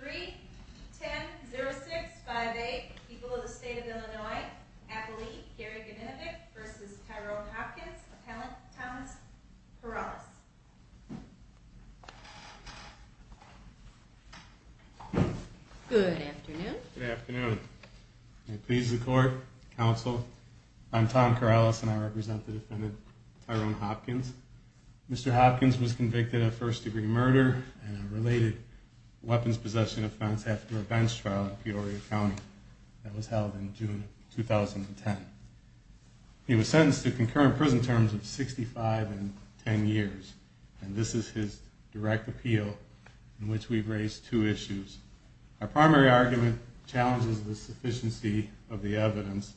3, 10, 0, 6, 5, 8. People of the State of Illinois. Appellee Gary Ganinovic v. Tyrone Hopkins. Appellant Thomas Corrales. Good afternoon. Good afternoon. I please the court, counsel. I'm Tom Corrales and I represent the defendant, Tyrone Hopkins. Mr. Hopkins was convicted of first degree murder and a related weapons possession offense after a bench trial in Peoria County. That was held in June of 2010. He was sentenced to concurrent prison terms of 65 and 10 years. And this is his direct appeal in which we've raised two issues. Our primary argument challenges the sufficiency of the evidence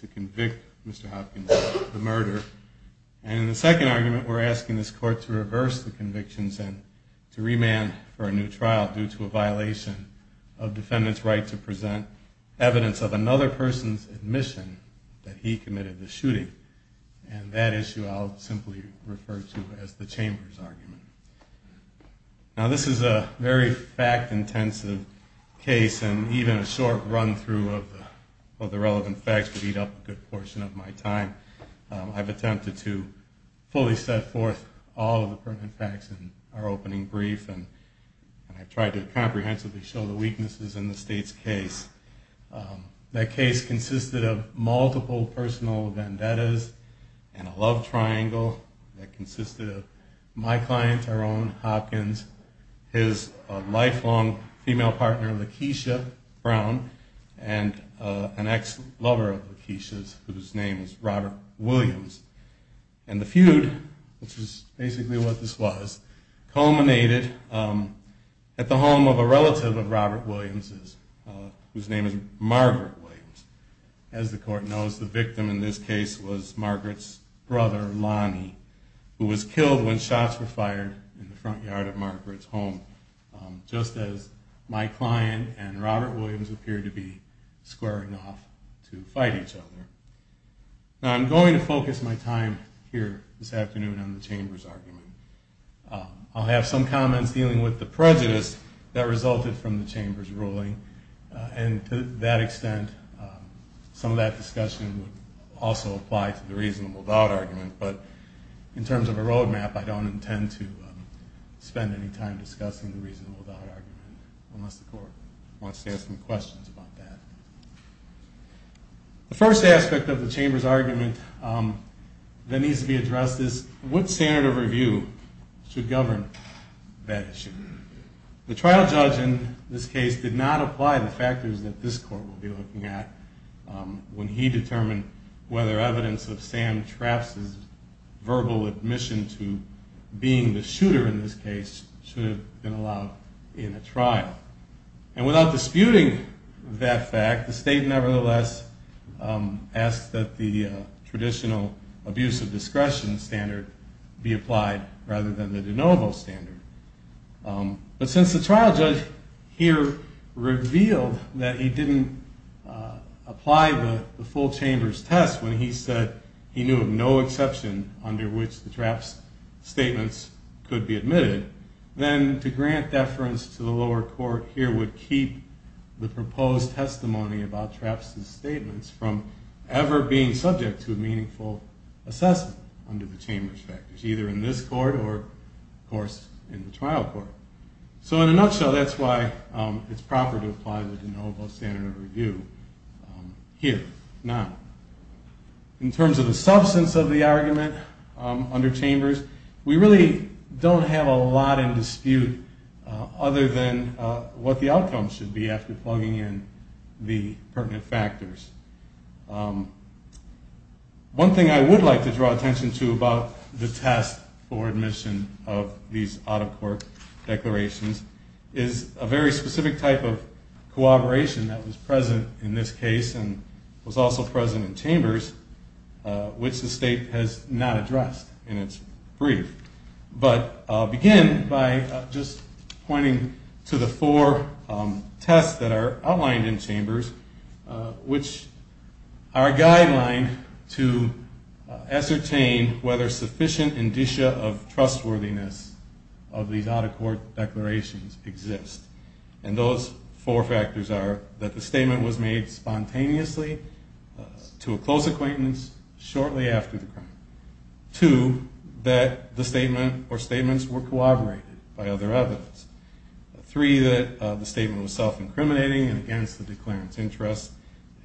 to convict Mr. Hopkins of the murder. And in the second argument we're asking this court to reverse the convictions and to remand for a new trial due to a violation of defendant's right to present evidence of another person's admission that he committed the shooting. And that issue I'll simply refer to as the chamber's argument. Now this is a very fact-intensive case and even a short run-through of the relevant facts would eat up a good portion of my time. I've attempted to fully set forth all of the facts in our opening brief and I've tried to comprehensively show the weaknesses in the state's case. That case consisted of multiple personal vendettas and a love triangle that consisted of my client, Tyrone Hopkins, and his lifelong female partner, Lakeisha Brown, and an ex-lover of Lakeisha's whose name is Robert Williams. And the feud, which is basically what this was, culminated at the home of a relative of Robert Williams's whose name is Margaret Williams. As the court knows, the victim in this case was Margaret's brother, Lonnie, who was killed when shots were fired in the front yard of Margaret's home, just as my client and Robert Williams appeared to be squaring off to fight each other. Now I'm going to focus my time here this afternoon on the chamber's argument. I'll have some comments dealing with the prejudice that resulted from the chamber's ruling. And to that extent, some of that discussion would also apply to the reasonable doubt argument. But in terms of a roadmap, I don't intend to spend any time discussing the reasonable doubt argument unless the court wants to ask some questions about that. The first aspect of the chamber's argument that needs to be addressed is what standard of review should govern that issue. The trial judge in this case did not apply the factors that this court will be looking at when he determined whether evidence of Sam Traft's verbal admission to being the shooter in this case should have been allowed in a trial. And without disputing that fact, the state nevertheless asked that the traditional abuse of discretion standard be applied rather than the de novo standard. But since the trial judge here revealed that he didn't apply the full chamber's test when he said he knew of no exception under which the Traft's statements could be admitted, then to grant deference to the lower court here would keep the proposed testimony about Traft's statements from ever being subject to a meaningful assessment under the chamber's factors, either in this court or, of course, in the trial court. So in a nutshell, that's why it's proper to apply the de novo standard of review here. In terms of the substance of the argument under chambers, we really don't have a lot in dispute other than what the outcome should be after plugging in the pertinent factors. One thing I would like to draw attention to about the test for admission of these out-of-court declarations is a very specific type of cooperation that was present in this case and was also present in chambers, which the state has not addressed in its brief. But I'll begin by just pointing to the four tests that are outlined in chambers, which are a guideline to ascertain whether sufficient indicia of trustworthiness of these out-of-court declarations exist. And those four factors are that the statement was made spontaneously to a close acquaintance shortly after the crime. Two, that the statement or statements were corroborated by other evidence. Three, that the statement was self-incriminating and against the declarant's interests.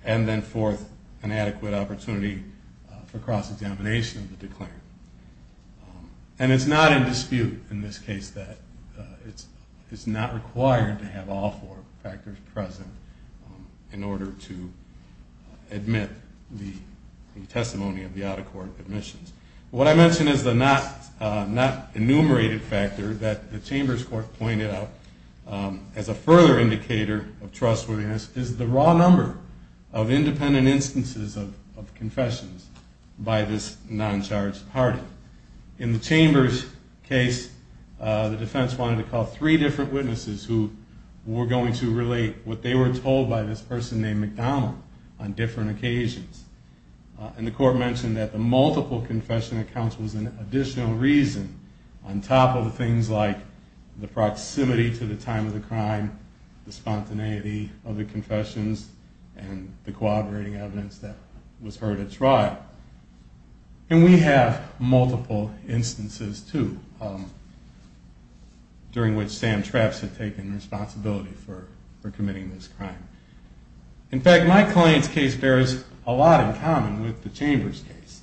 And then fourth, an adequate opportunity for cross-examination of the declarant. And it's not in dispute in this case that it's not required to have all four factors present in order to admit the testimony of the out-of-court admissions. What I mention as the not enumerated factor that the chambers court pointed out as a further indicator of trustworthiness is the raw number of independent instances of confessions by this non-charged party. In the chambers case, the defense wanted to call three different witnesses who were going to relate what they were told by this person named McDonald on different occasions. And the court mentioned that the multiple confession accounts was an additional reason on top of things like the proximity to the time of the crime, the spontaneity of the confessions, and the corroborating evidence that was heard at trial. And we have multiple instances, too, during which Sam Trapps had taken responsibility for committing this crime. In fact, my client's case bears a lot in common with the chambers case.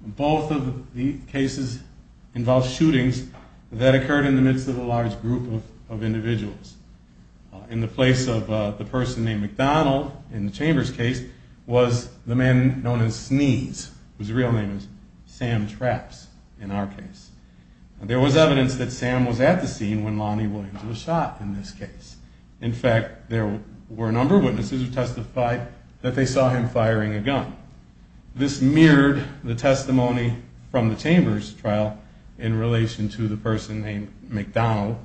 Both of the cases involve shootings that occurred in the midst of a large group of individuals. In the place of the person named McDonald in the chambers case was the man known as Sneeze, whose real name is Sam Trapps in our case. There was evidence that Sam was at the scene when Lonnie Williams was shot in this case. In fact, there were a number of witnesses who testified that they saw him firing a gun. This mirrored the testimony from the chambers trial in relation to the person named McDonald,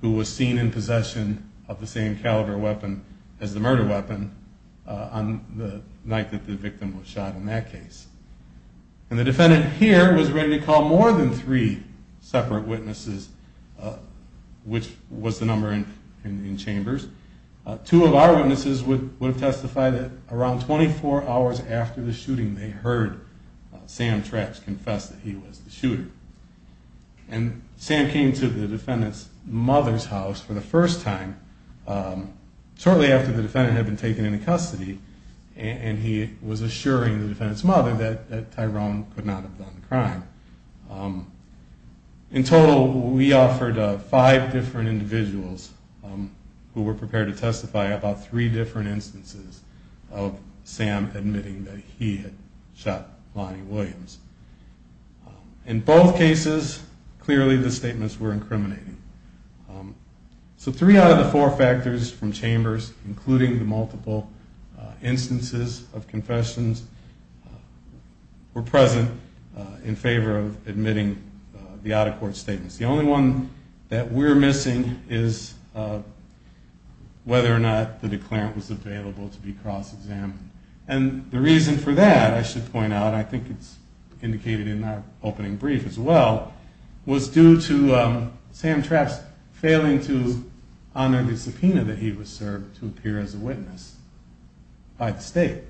who was seen in possession of the same caliber weapon as the murder weapon on the night that the victim was shot in that case. And the defendant here was ready to call more than three separate witnesses, which was the number in chambers. Two of our witnesses would have testified that around 24 hours after the shooting they heard Sam Trapps confess that he was the shooter. And Sam came to the defendant's mother's house for the first time shortly after the defendant had been taken into custody, and he was assuring the defendant's mother that Tyrone could not have done the crime. In total, we offered five different individuals who were prepared to testify about three different instances of Sam admitting that he had shot Lonnie Williams. In both cases, clearly the statements were incriminating. So three out of the four factors from chambers, including the multiple instances of confessions, were present in favor of admitting the out-of-court statements. The only one that we're missing is whether or not the declarant was available to be cross-examined. And the reason for that, I should point out, I think it's indicated in our opening brief as well, was due to Sam Trapps failing to honor the subpoena that he was served to appear as a witness by the state.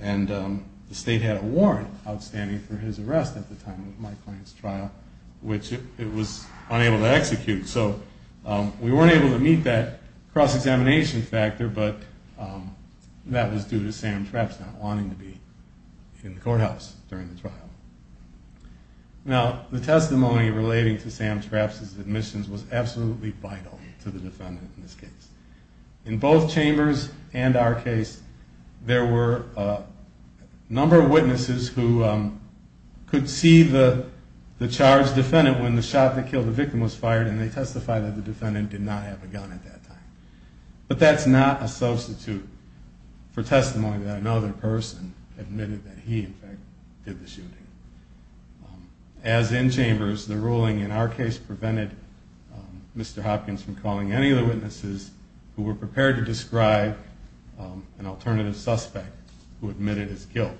And the state had a warrant outstanding for his arrest at the time of my client's trial, which it was unable to execute. So we weren't able to meet that cross-examination factor, but that was due to Sam Trapps not wanting to be in the courthouse during the trial. Now, the testimony relating to Sam Trapps' admissions was absolutely vital to the defendant in this case. In both chambers and our case, there were a number of witnesses who could see the charged defendant when the shot that killed the victim was fired, and they testified that the defendant did not have a gun at that time. But that's not a substitute for testimony that another person admitted that he, in fact, did the shooting. As in chambers, the ruling in our case prevented Mr. Hopkins from calling any of the witnesses who were prepared to describe an alternative suspect who admitted his guilt.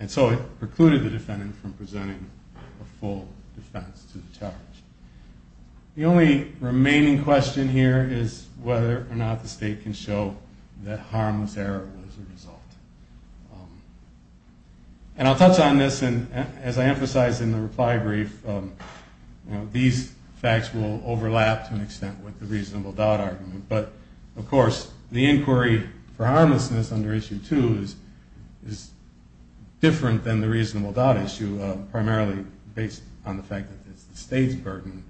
And so it precluded the defendant from presenting a full defense to the charge. The only remaining question here is whether or not the state can show that harmless error was the result. And I'll touch on this, and as I emphasized in the reply brief, these facts will overlap to an extent with the reasonable doubt argument. But, of course, the inquiry for harmlessness under Issue 2 is different than the reasonable doubt issue, primarily based on the fact that it's the state's burden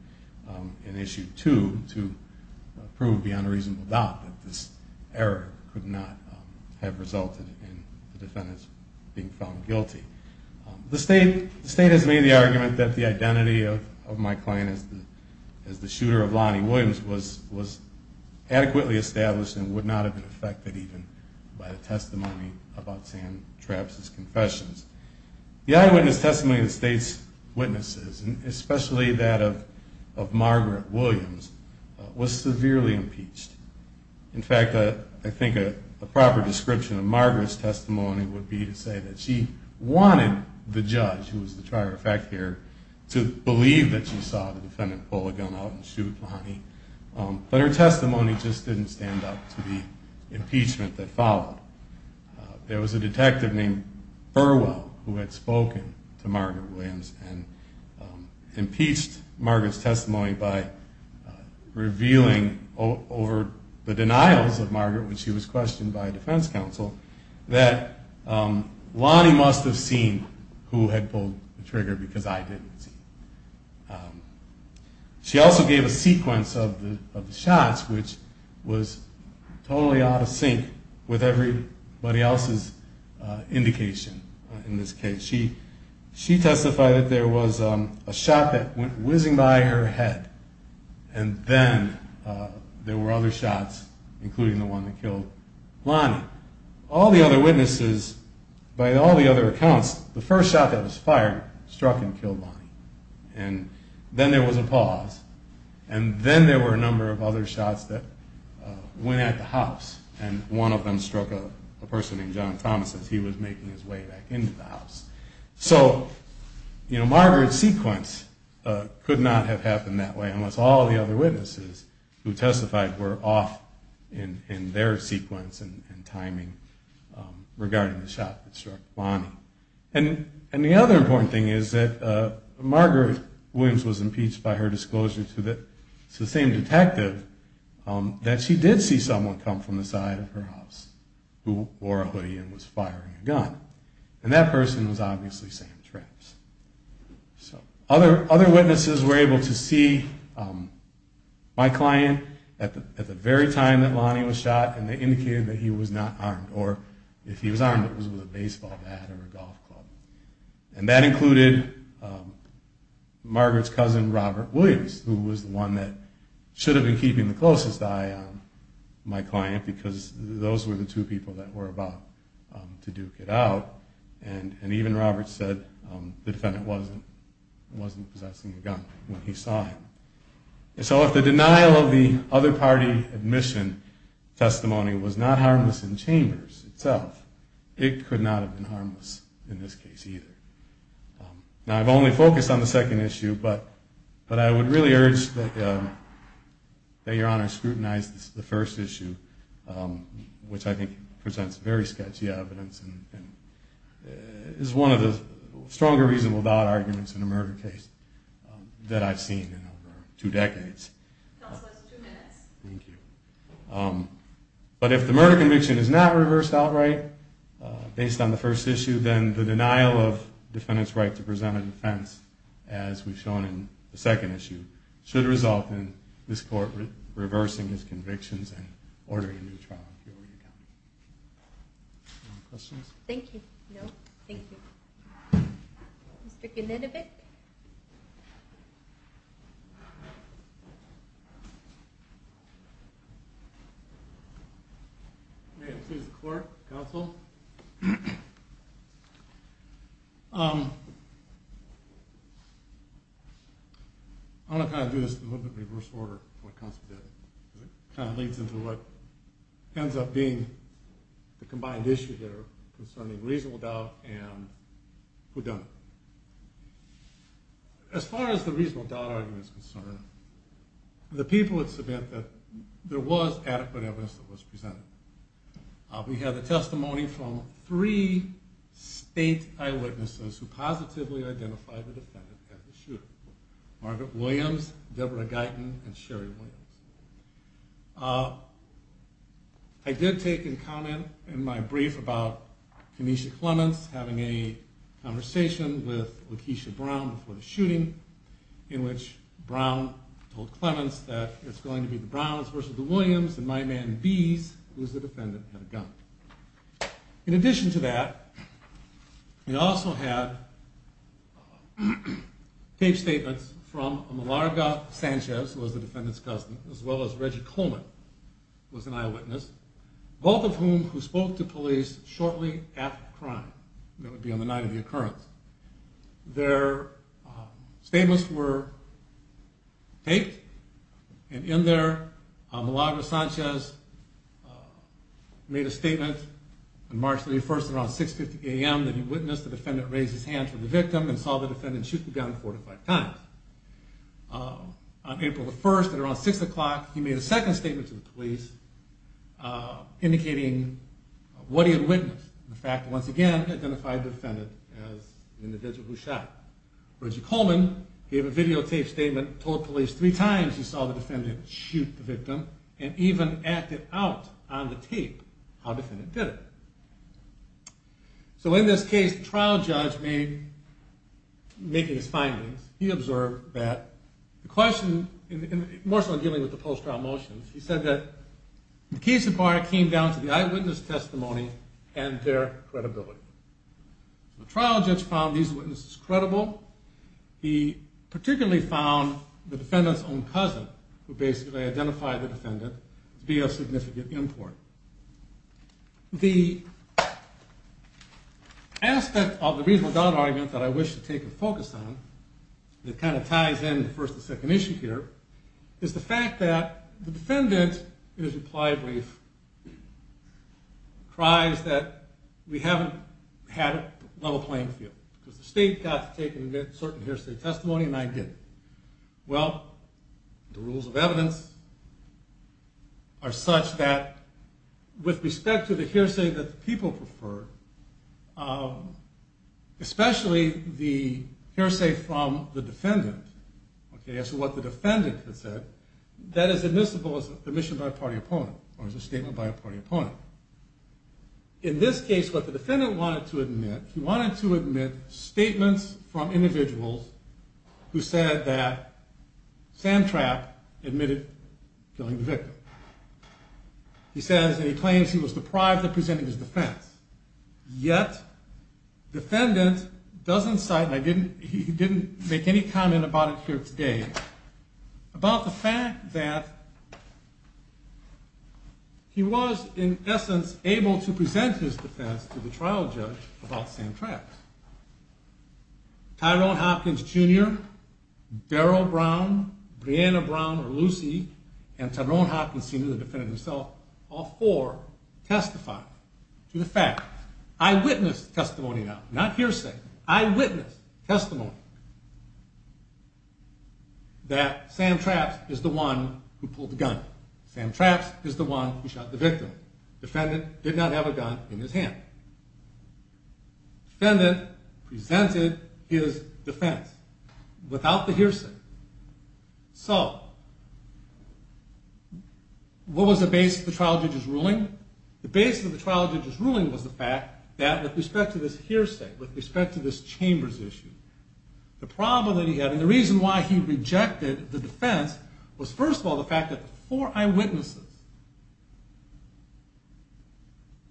in Issue 2 to prove beyond a reasonable doubt that this error could not have resulted in the defendant being found guilty. The state has made the argument that the identity of my client as the shooter of Lonnie Williams was adequately established and would not have been affected even by the testimony about Sam Trapp's confessions. The eyewitness testimony of the state's witnesses, especially that of Margaret Williams, was severely impeached. In fact, I think a proper description of Margaret's testimony would be to say that she wanted the judge, who was the trier of fact here, to believe that she saw the defendant pull a gun out and shoot Lonnie. But her testimony just didn't stand up to the impeachment that followed. There was a detective named Burwell who had spoken to Margaret Williams and impeached Margaret's testimony by revealing over the denials of Margaret, which she was questioned by a defense counsel, that Lonnie must have seen who had pulled the trigger because I didn't see. She also gave a sequence of the shots, which was totally out of sync with everybody else's indication in this case. She testified that there was a shot that went whizzing by her head, and then there were other shots, including the one that killed Lonnie. By all the other accounts, the first shot that was fired struck and killed Lonnie. Then there was a pause, and then there were a number of other shots that went at the house, and one of them struck a person named John Thomas as he was making his way back into the house. So Margaret's sequence could not have happened that way unless all the other witnesses who testified were off in their sequence and timing regarding the shot that struck Lonnie. And the other important thing is that Margaret Williams was impeached by her disclosure to the same detective that she did see someone come from the side of her house who wore a hoodie and was firing a gun. And that person was obviously Sam Trapps. Other witnesses were able to see my client at the very time that Lonnie was shot, and they indicated that he was not armed. Or if he was armed, it was with a baseball bat or a golf club. And that included Margaret's cousin, Robert Williams, who was the one that should have been keeping the closest eye on my client because those were the two people that were about to duke it out. And even Robert said the defendant wasn't possessing a gun when he saw him. So if the denial of the other party admission testimony was not harmless in Chambers itself, it could not have been harmless in this case either. Now, I've only focused on the second issue, but I would really urge that Your Honor scrutinize the first issue, which I think presents very sketchy evidence and is one of the stronger reasonable doubt arguments in a murder case that I've seen in over two decades. Counsel, that's two minutes. Thank you. But if the murder conviction is not reversed outright based on the first issue, then the denial of the defendant's right to present a defense, as we've shown in the second issue, should result in this Court reversing his convictions and ordering a new trial in Peoria County. Any questions? Thank you. No. Thank you. Mr. Ganinovic? May it please the Court, Counsel? I'm going to kind of do this in a little bit of reverse order, what Counsel did, because it kind of leads into what ends up being the combined issue here concerning reasonable doubt and whodunit. As far as the reasonable doubt argument is concerned, the people would submit that there was adequate evidence that was presented. We had the testimony from three state eyewitnesses who positively identified the defendant at the shooting, Margaret Williams, Deborah Guyton, and Sherry Williams. I did take a comment in my brief about Kenesha Clements having a conversation with Lakeisha Brown before the shooting, in which Brown told Clements that it's going to be the Browns versus the Williams and my man Bees, who's the defendant, had a gun. In addition to that, we also had taped statements from Malarga Sanchez, who was the defendant's cousin, as well as Reggie Coleman, who was an eyewitness, both of whom who spoke to police shortly after the crime. That would be on the night of the occurrence. Their statements were taped, and in there Malarga Sanchez made a statement on March 31st at around 6.50 a.m. that he witnessed the defendant raise his hand from the victim and saw the defendant shoot the gun four to five times. On April 1st at around 6 o'clock, he made a second statement to the police indicating what he had witnessed, the fact that, once again, he identified the defendant as the individual who shot. Reggie Coleman gave a videotaped statement, told police three times he saw the defendant shoot the victim, and even acted out on the tape how the defendant did it. So in this case, the trial judge, making his findings, he observed that the question, more so in dealing with the post-trial motions, he said that the case in part came down to the eyewitness testimony and their credibility. The trial judge found these witnesses credible. He particularly found the defendant's own cousin, who basically identified the defendant, to be of significant import. The aspect of the reasonable doubt argument that I wish to take a focus on, that kind of ties in with the first and second issue here, is the fact that the defendant, in his reply brief, cries that we haven't had a level playing field, because the state got to take a certain hearsay testimony and I didn't. Well, the rules of evidence are such that, with respect to the hearsay that the people prefer, especially the hearsay from the defendant, as to what the defendant had said, that is admissible as an admission by a party opponent, or as a statement by a party opponent. In this case, what the defendant wanted to admit, he wanted to admit statements from individuals who said that Sandtrap admitted killing the victim. He says, and he claims he was deprived of presenting his defense. Yet, the defendant doesn't cite, and he didn't make any comment about it here today, about the fact that he was, in essence, able to present his defense to the trial judge about Sandtrap. Tyrone Hopkins Jr., Beryl Brown, Brianna Brown, or Lucy, and Tyrone Hopkins Sr., the defendant himself, all four testified to the fact, eyewitness testimony now, not hearsay, eyewitness testimony, that Sandtrap is the one who pulled the gun. Sandtrap is the one who shot the victim. Defendant did not have a gun in his hand. Defendant presented his defense without the hearsay. So, what was the basis of the trial judge's ruling? The basis of the trial judge's ruling was the fact that, with respect to this hearsay, with respect to this Chambers issue, the problem that he had, and the reason why he rejected the defense, was, first of all, the fact that the four eyewitnesses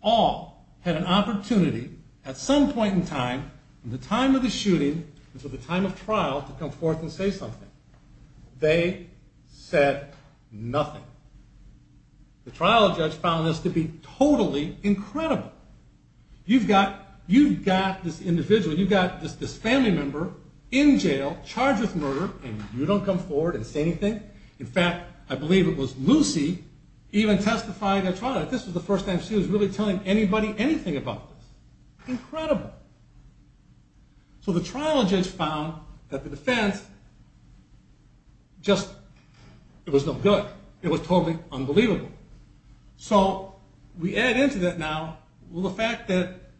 all had an opportunity, at some point in time, at the time of the shooting, at the time of the trial, to come forth and say something. They said nothing. The trial judge found this to be totally incredible. You've got this individual, you've got this family member, in jail, charged with murder, and you don't come forward and say anything? In fact, I believe it was Lucy even testifying at trial. This was the first time she was really telling anybody anything about this. Incredible. So, the trial judge found that the defense just, it was no good. It was totally unbelievable. So, we add into that now, well, the fact that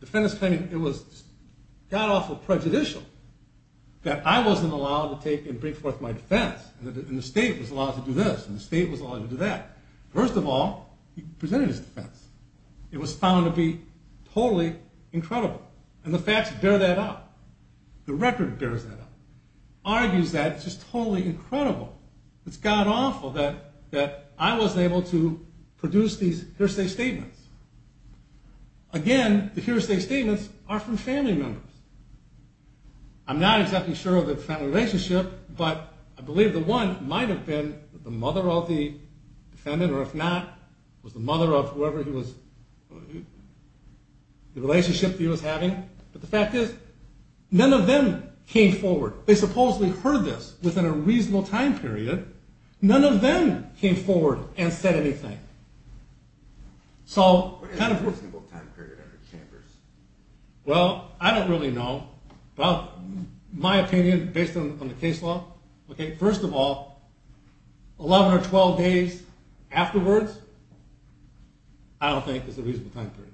defendants claiming it was god-awful prejudicial, that I wasn't allowed to take and bring forth my defense, and the state was allowed to do this, and the state was allowed to do that. First of all, he presented his defense. It was found to be totally incredible. And the facts bear that out. The record bears that out. Argues that it's just totally incredible. It's god-awful that I wasn't able to produce these hearsay statements. Again, the hearsay statements are from family members. I'm not exactly sure of the family relationship, but I believe the one might have been the mother of the defendant, or if not, was the mother of whoever he was, the relationship he was having. But the fact is, none of them came forward. They supposedly heard this within a reasonable time period. None of them came forward and said anything. What is a reasonable time period under Chambers? Well, I don't really know. My opinion, based on the case law, first of all, 11 or 12 days afterwards, I don't think is a reasonable time period.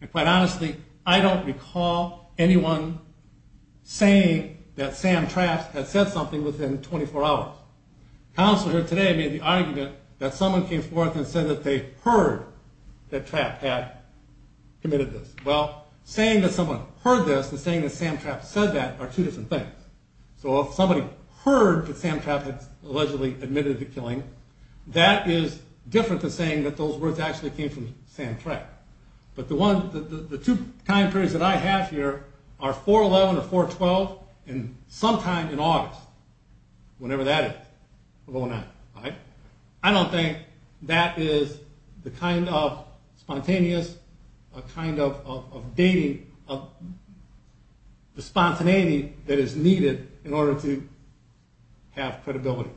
And quite honestly, I don't recall anyone saying that Sam Traft had said something within 24 hours. Counsel here today made the argument that someone came forth and said that they heard that Traft had committed this. Well, saying that someone heard this and saying that Sam Traft said that are two different things. So if somebody heard that Sam Traft had allegedly admitted to killing, that is different to saying that those words actually came from Sam Traft. But the two time periods that I have here are 4-11 or 4-12, and sometime in August, whenever that is. I don't think that is the kind of spontaneous, the kind of spontaneity that is needed in order to have credibility,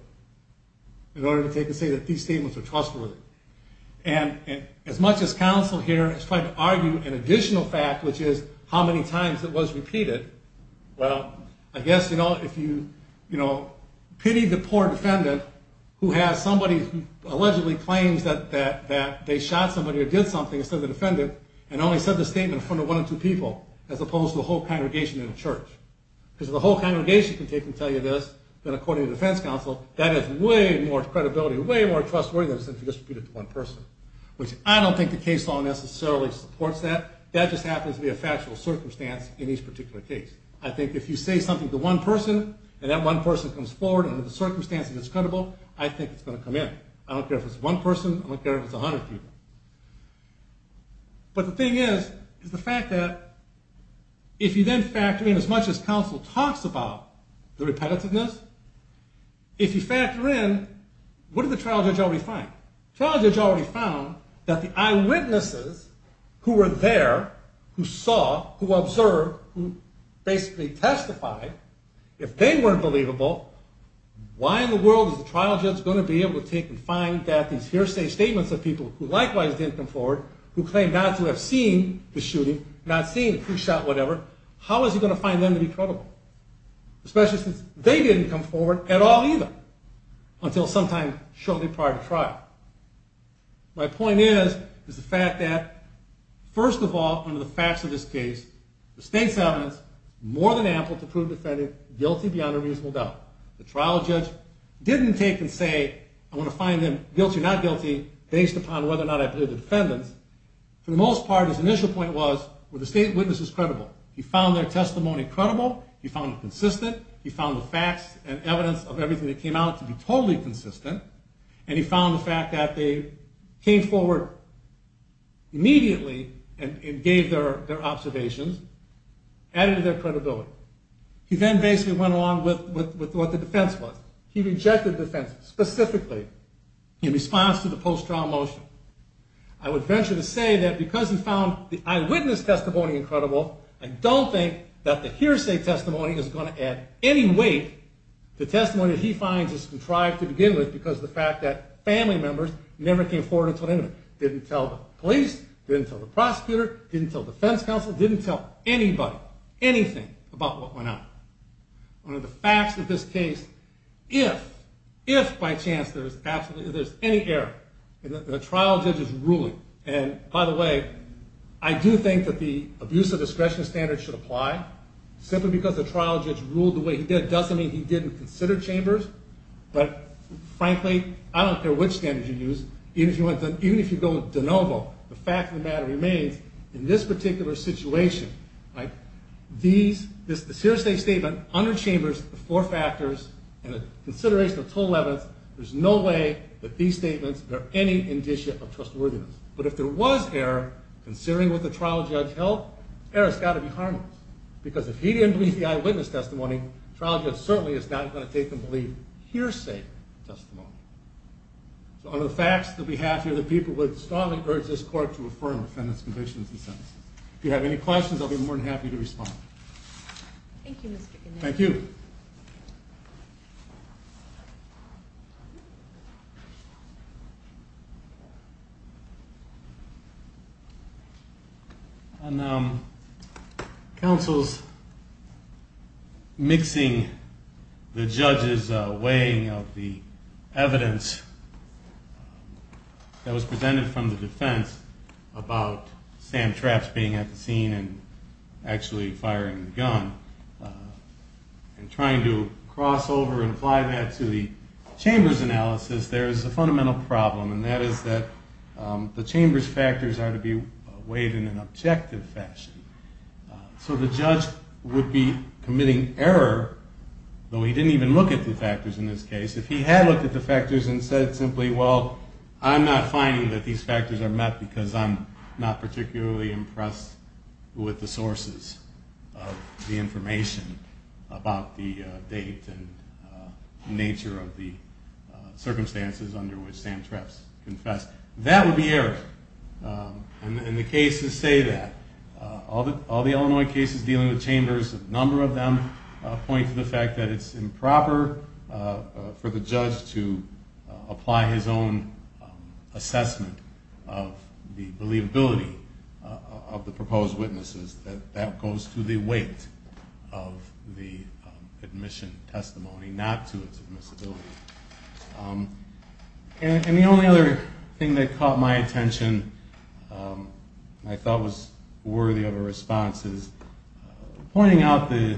in order to say that these statements are trustworthy. And as much as counsel here is trying to argue an additional fact, which is how many times it was repeated, well, I guess if you pity the poor defendant who has somebody who allegedly claims that they shot somebody or did something, instead of the defendant, and only said the statement in front of one or two people, as opposed to the whole congregation in a church. Because if the whole congregation can tell you this, then according to defense counsel, that is way more credibility, way more trustworthy than if you just repeat it to one person. Which I don't think the case law necessarily supports that. That just happens to be a factual circumstance in each particular case. I think if you say something to one person, and that one person comes forward under the circumstances it's credible, I think it's going to come in. I don't care if it's one person, I don't care if it's a hundred people. But the thing is, is the fact that if you then factor in, as much as counsel talks about the repetitiveness, if you factor in, what did the trial judge already find? The trial judge already found that the eyewitnesses who were there, who saw, who observed, who basically testified, if they weren't believable, why in the world is the trial judge going to be able to take and find that these hearsay statements of people who likewise didn't come forward, who claimed not to have seen the shooting, not seen who shot whatever, how is he going to find them to be credible? Especially since they didn't come forward at all either, until sometime shortly prior to trial. My point is, is the fact that, first of all, under the facts of this case, the state's evidence is more than ample to prove the defendant guilty beyond a reasonable doubt. The trial judge didn't take and say, I want to find them guilty or not guilty, based upon whether or not I believe the defendants. For the most part, his initial point was, were the state witnesses credible? He found their testimony credible, he found it consistent, he found the facts and evidence of everything that came out to be totally consistent, and he found the fact that they came forward immediately and gave their observations, added to their credibility. He then basically went along with what the defense was. He rejected the defense specifically in response to the post-trial motion. I would venture to say that because he found the eyewitness testimony incredible, I don't think that the hearsay testimony is going to add any weight to testimony that he finds is contrived to begin with, because of the fact that family members never came forward until then. Didn't tell the police, didn't tell the prosecutor, didn't tell the defense counsel, didn't tell anybody anything about what went on. Under the facts of this case, if, if by chance there's any error, the trial judge is ruling, and by the way, I do think that the abuse of discretion standard should apply, simply because the trial judge ruled the way he did doesn't mean he didn't consider Chambers, but frankly, I don't care which standard you use, even if you go with DeNovo, the fact of the matter remains, in this particular situation, these, this hearsay statement, under Chambers, the four factors, and the consideration of total evidence, there's no way that these statements bear any indicia of trustworthiness. But if there was error, considering what the trial judge held, error's got to be harmless, because if he didn't believe the eyewitness testimony, the trial judge certainly is not going to take and believe hearsay testimony. So under the facts that we have here, the people would strongly urge this court to affirm the defendant's convictions and sentences. If you have any questions, I'll be more than happy to respond. Thank you, Mr. Goodman. Thank you. Counsel's mixing the judge's weighing of the evidence that was presented from the defense about Sam Trapps being at the scene and actually firing the gun, and trying to cross over and apply that to the Chambers analysis, there is a fundamental problem, and that is that the Chambers factors are to be weighed in an objective fashion. So the judge would be committing error, though he didn't even look at the factors in this case. If he had looked at the factors and said simply, well, I'm not finding that these factors are met because I'm not particularly impressed with the sources of the information about the date and nature of the circumstances under which Sam Trapps confessed, that would be error. And the cases say that. All the Illinois cases dealing with Chambers, a number of them point to the fact that it's improper for the judge to apply his own assessment of the believability of the proposed witnesses, that that goes to the weight of the admission testimony, not to its admissibility. And the only other thing that caught my attention, I thought was worthy of a response, is pointing out the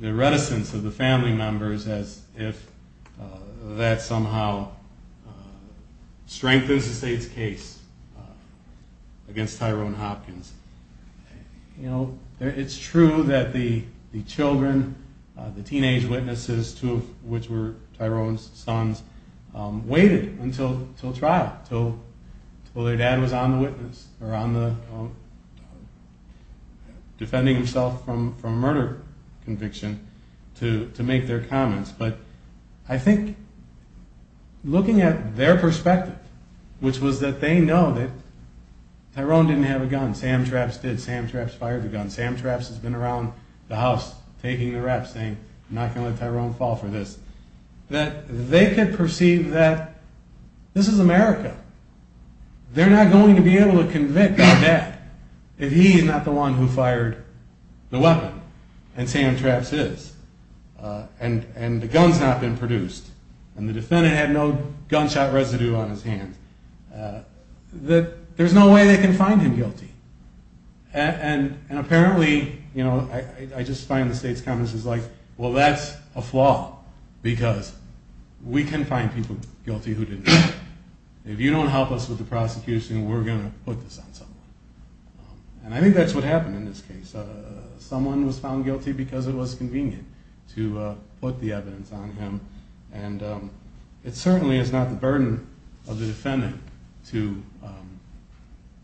reticence of the family members as if that somehow strengthens the state's case against Tyrone Hopkins. It's true that the children, the teenage witnesses, two of which were Tyrone's sons, waited until trial, until their dad was on the witness or defending himself from murder conviction to make their comments. But I think looking at their perspective, which was that they know that Tyrone didn't have a gun, Sam Trapps did, Sam Trapps fired the gun, Sam Trapps has been around the house taking the rap, saying, I'm not going to let Tyrone fall for this, that they could perceive that this is America. They're not going to be able to convict their dad if he's not the one who fired the weapon, and Sam Trapps is. And the gun's not been produced, and the defendant had no gunshot residue on his hands. There's no way they can find him guilty. And apparently, I just find the state's comments like, well, that's a flaw, because we can find people guilty who didn't do it. If you don't help us with the prosecution, we're going to put this on someone. And I think that's what happened in this case. Someone was found guilty because it was convenient to put the evidence on him. And it certainly is not the burden of the defendant to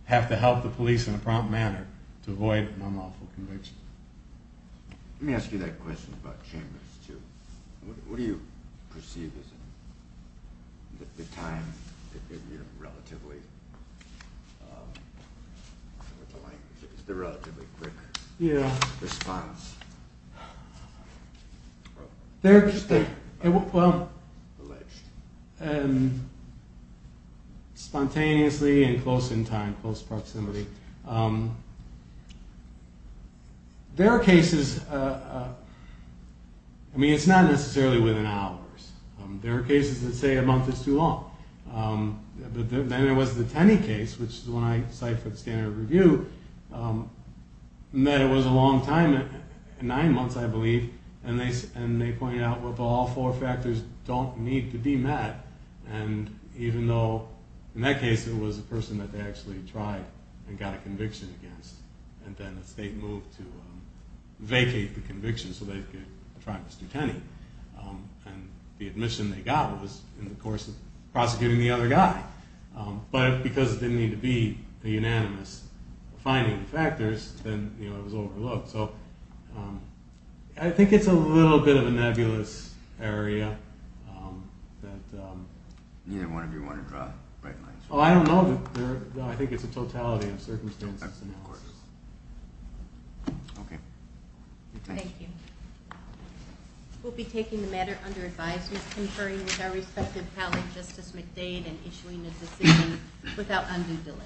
have to help the police in a prompt manner to avoid an unlawful conviction. Let me ask you that question about chambers, too. What do you perceive as the time that they're relatively quick response? Spontaneously and close in time, close proximity. There are cases... I mean, it's not necessarily within hours. There are cases that say a month is too long. Then there was the Tenney case, which, when I cite for the standard review, that it was a long time, nine months, I believe, and they pointed out, well, all four factors don't need to be met. And even though, in that case, it was a person that they actually tried and got a conviction against, and then the state moved to vacate the conviction so they could try Mr. Tenney. And the admission they got was in the course of prosecuting the other guy. But because it didn't need to be the unanimous finding of factors, then it was overlooked. So I think it's a little bit of a nebulous area that... Neither one of you want to draw bright lines. Oh, I don't know. I think it's a totality of circumstances. Okay. Thank you. We'll be taking the matter under advisement, conferring with our respective colleague, Justice McDade, and issuing a decision without undue delay.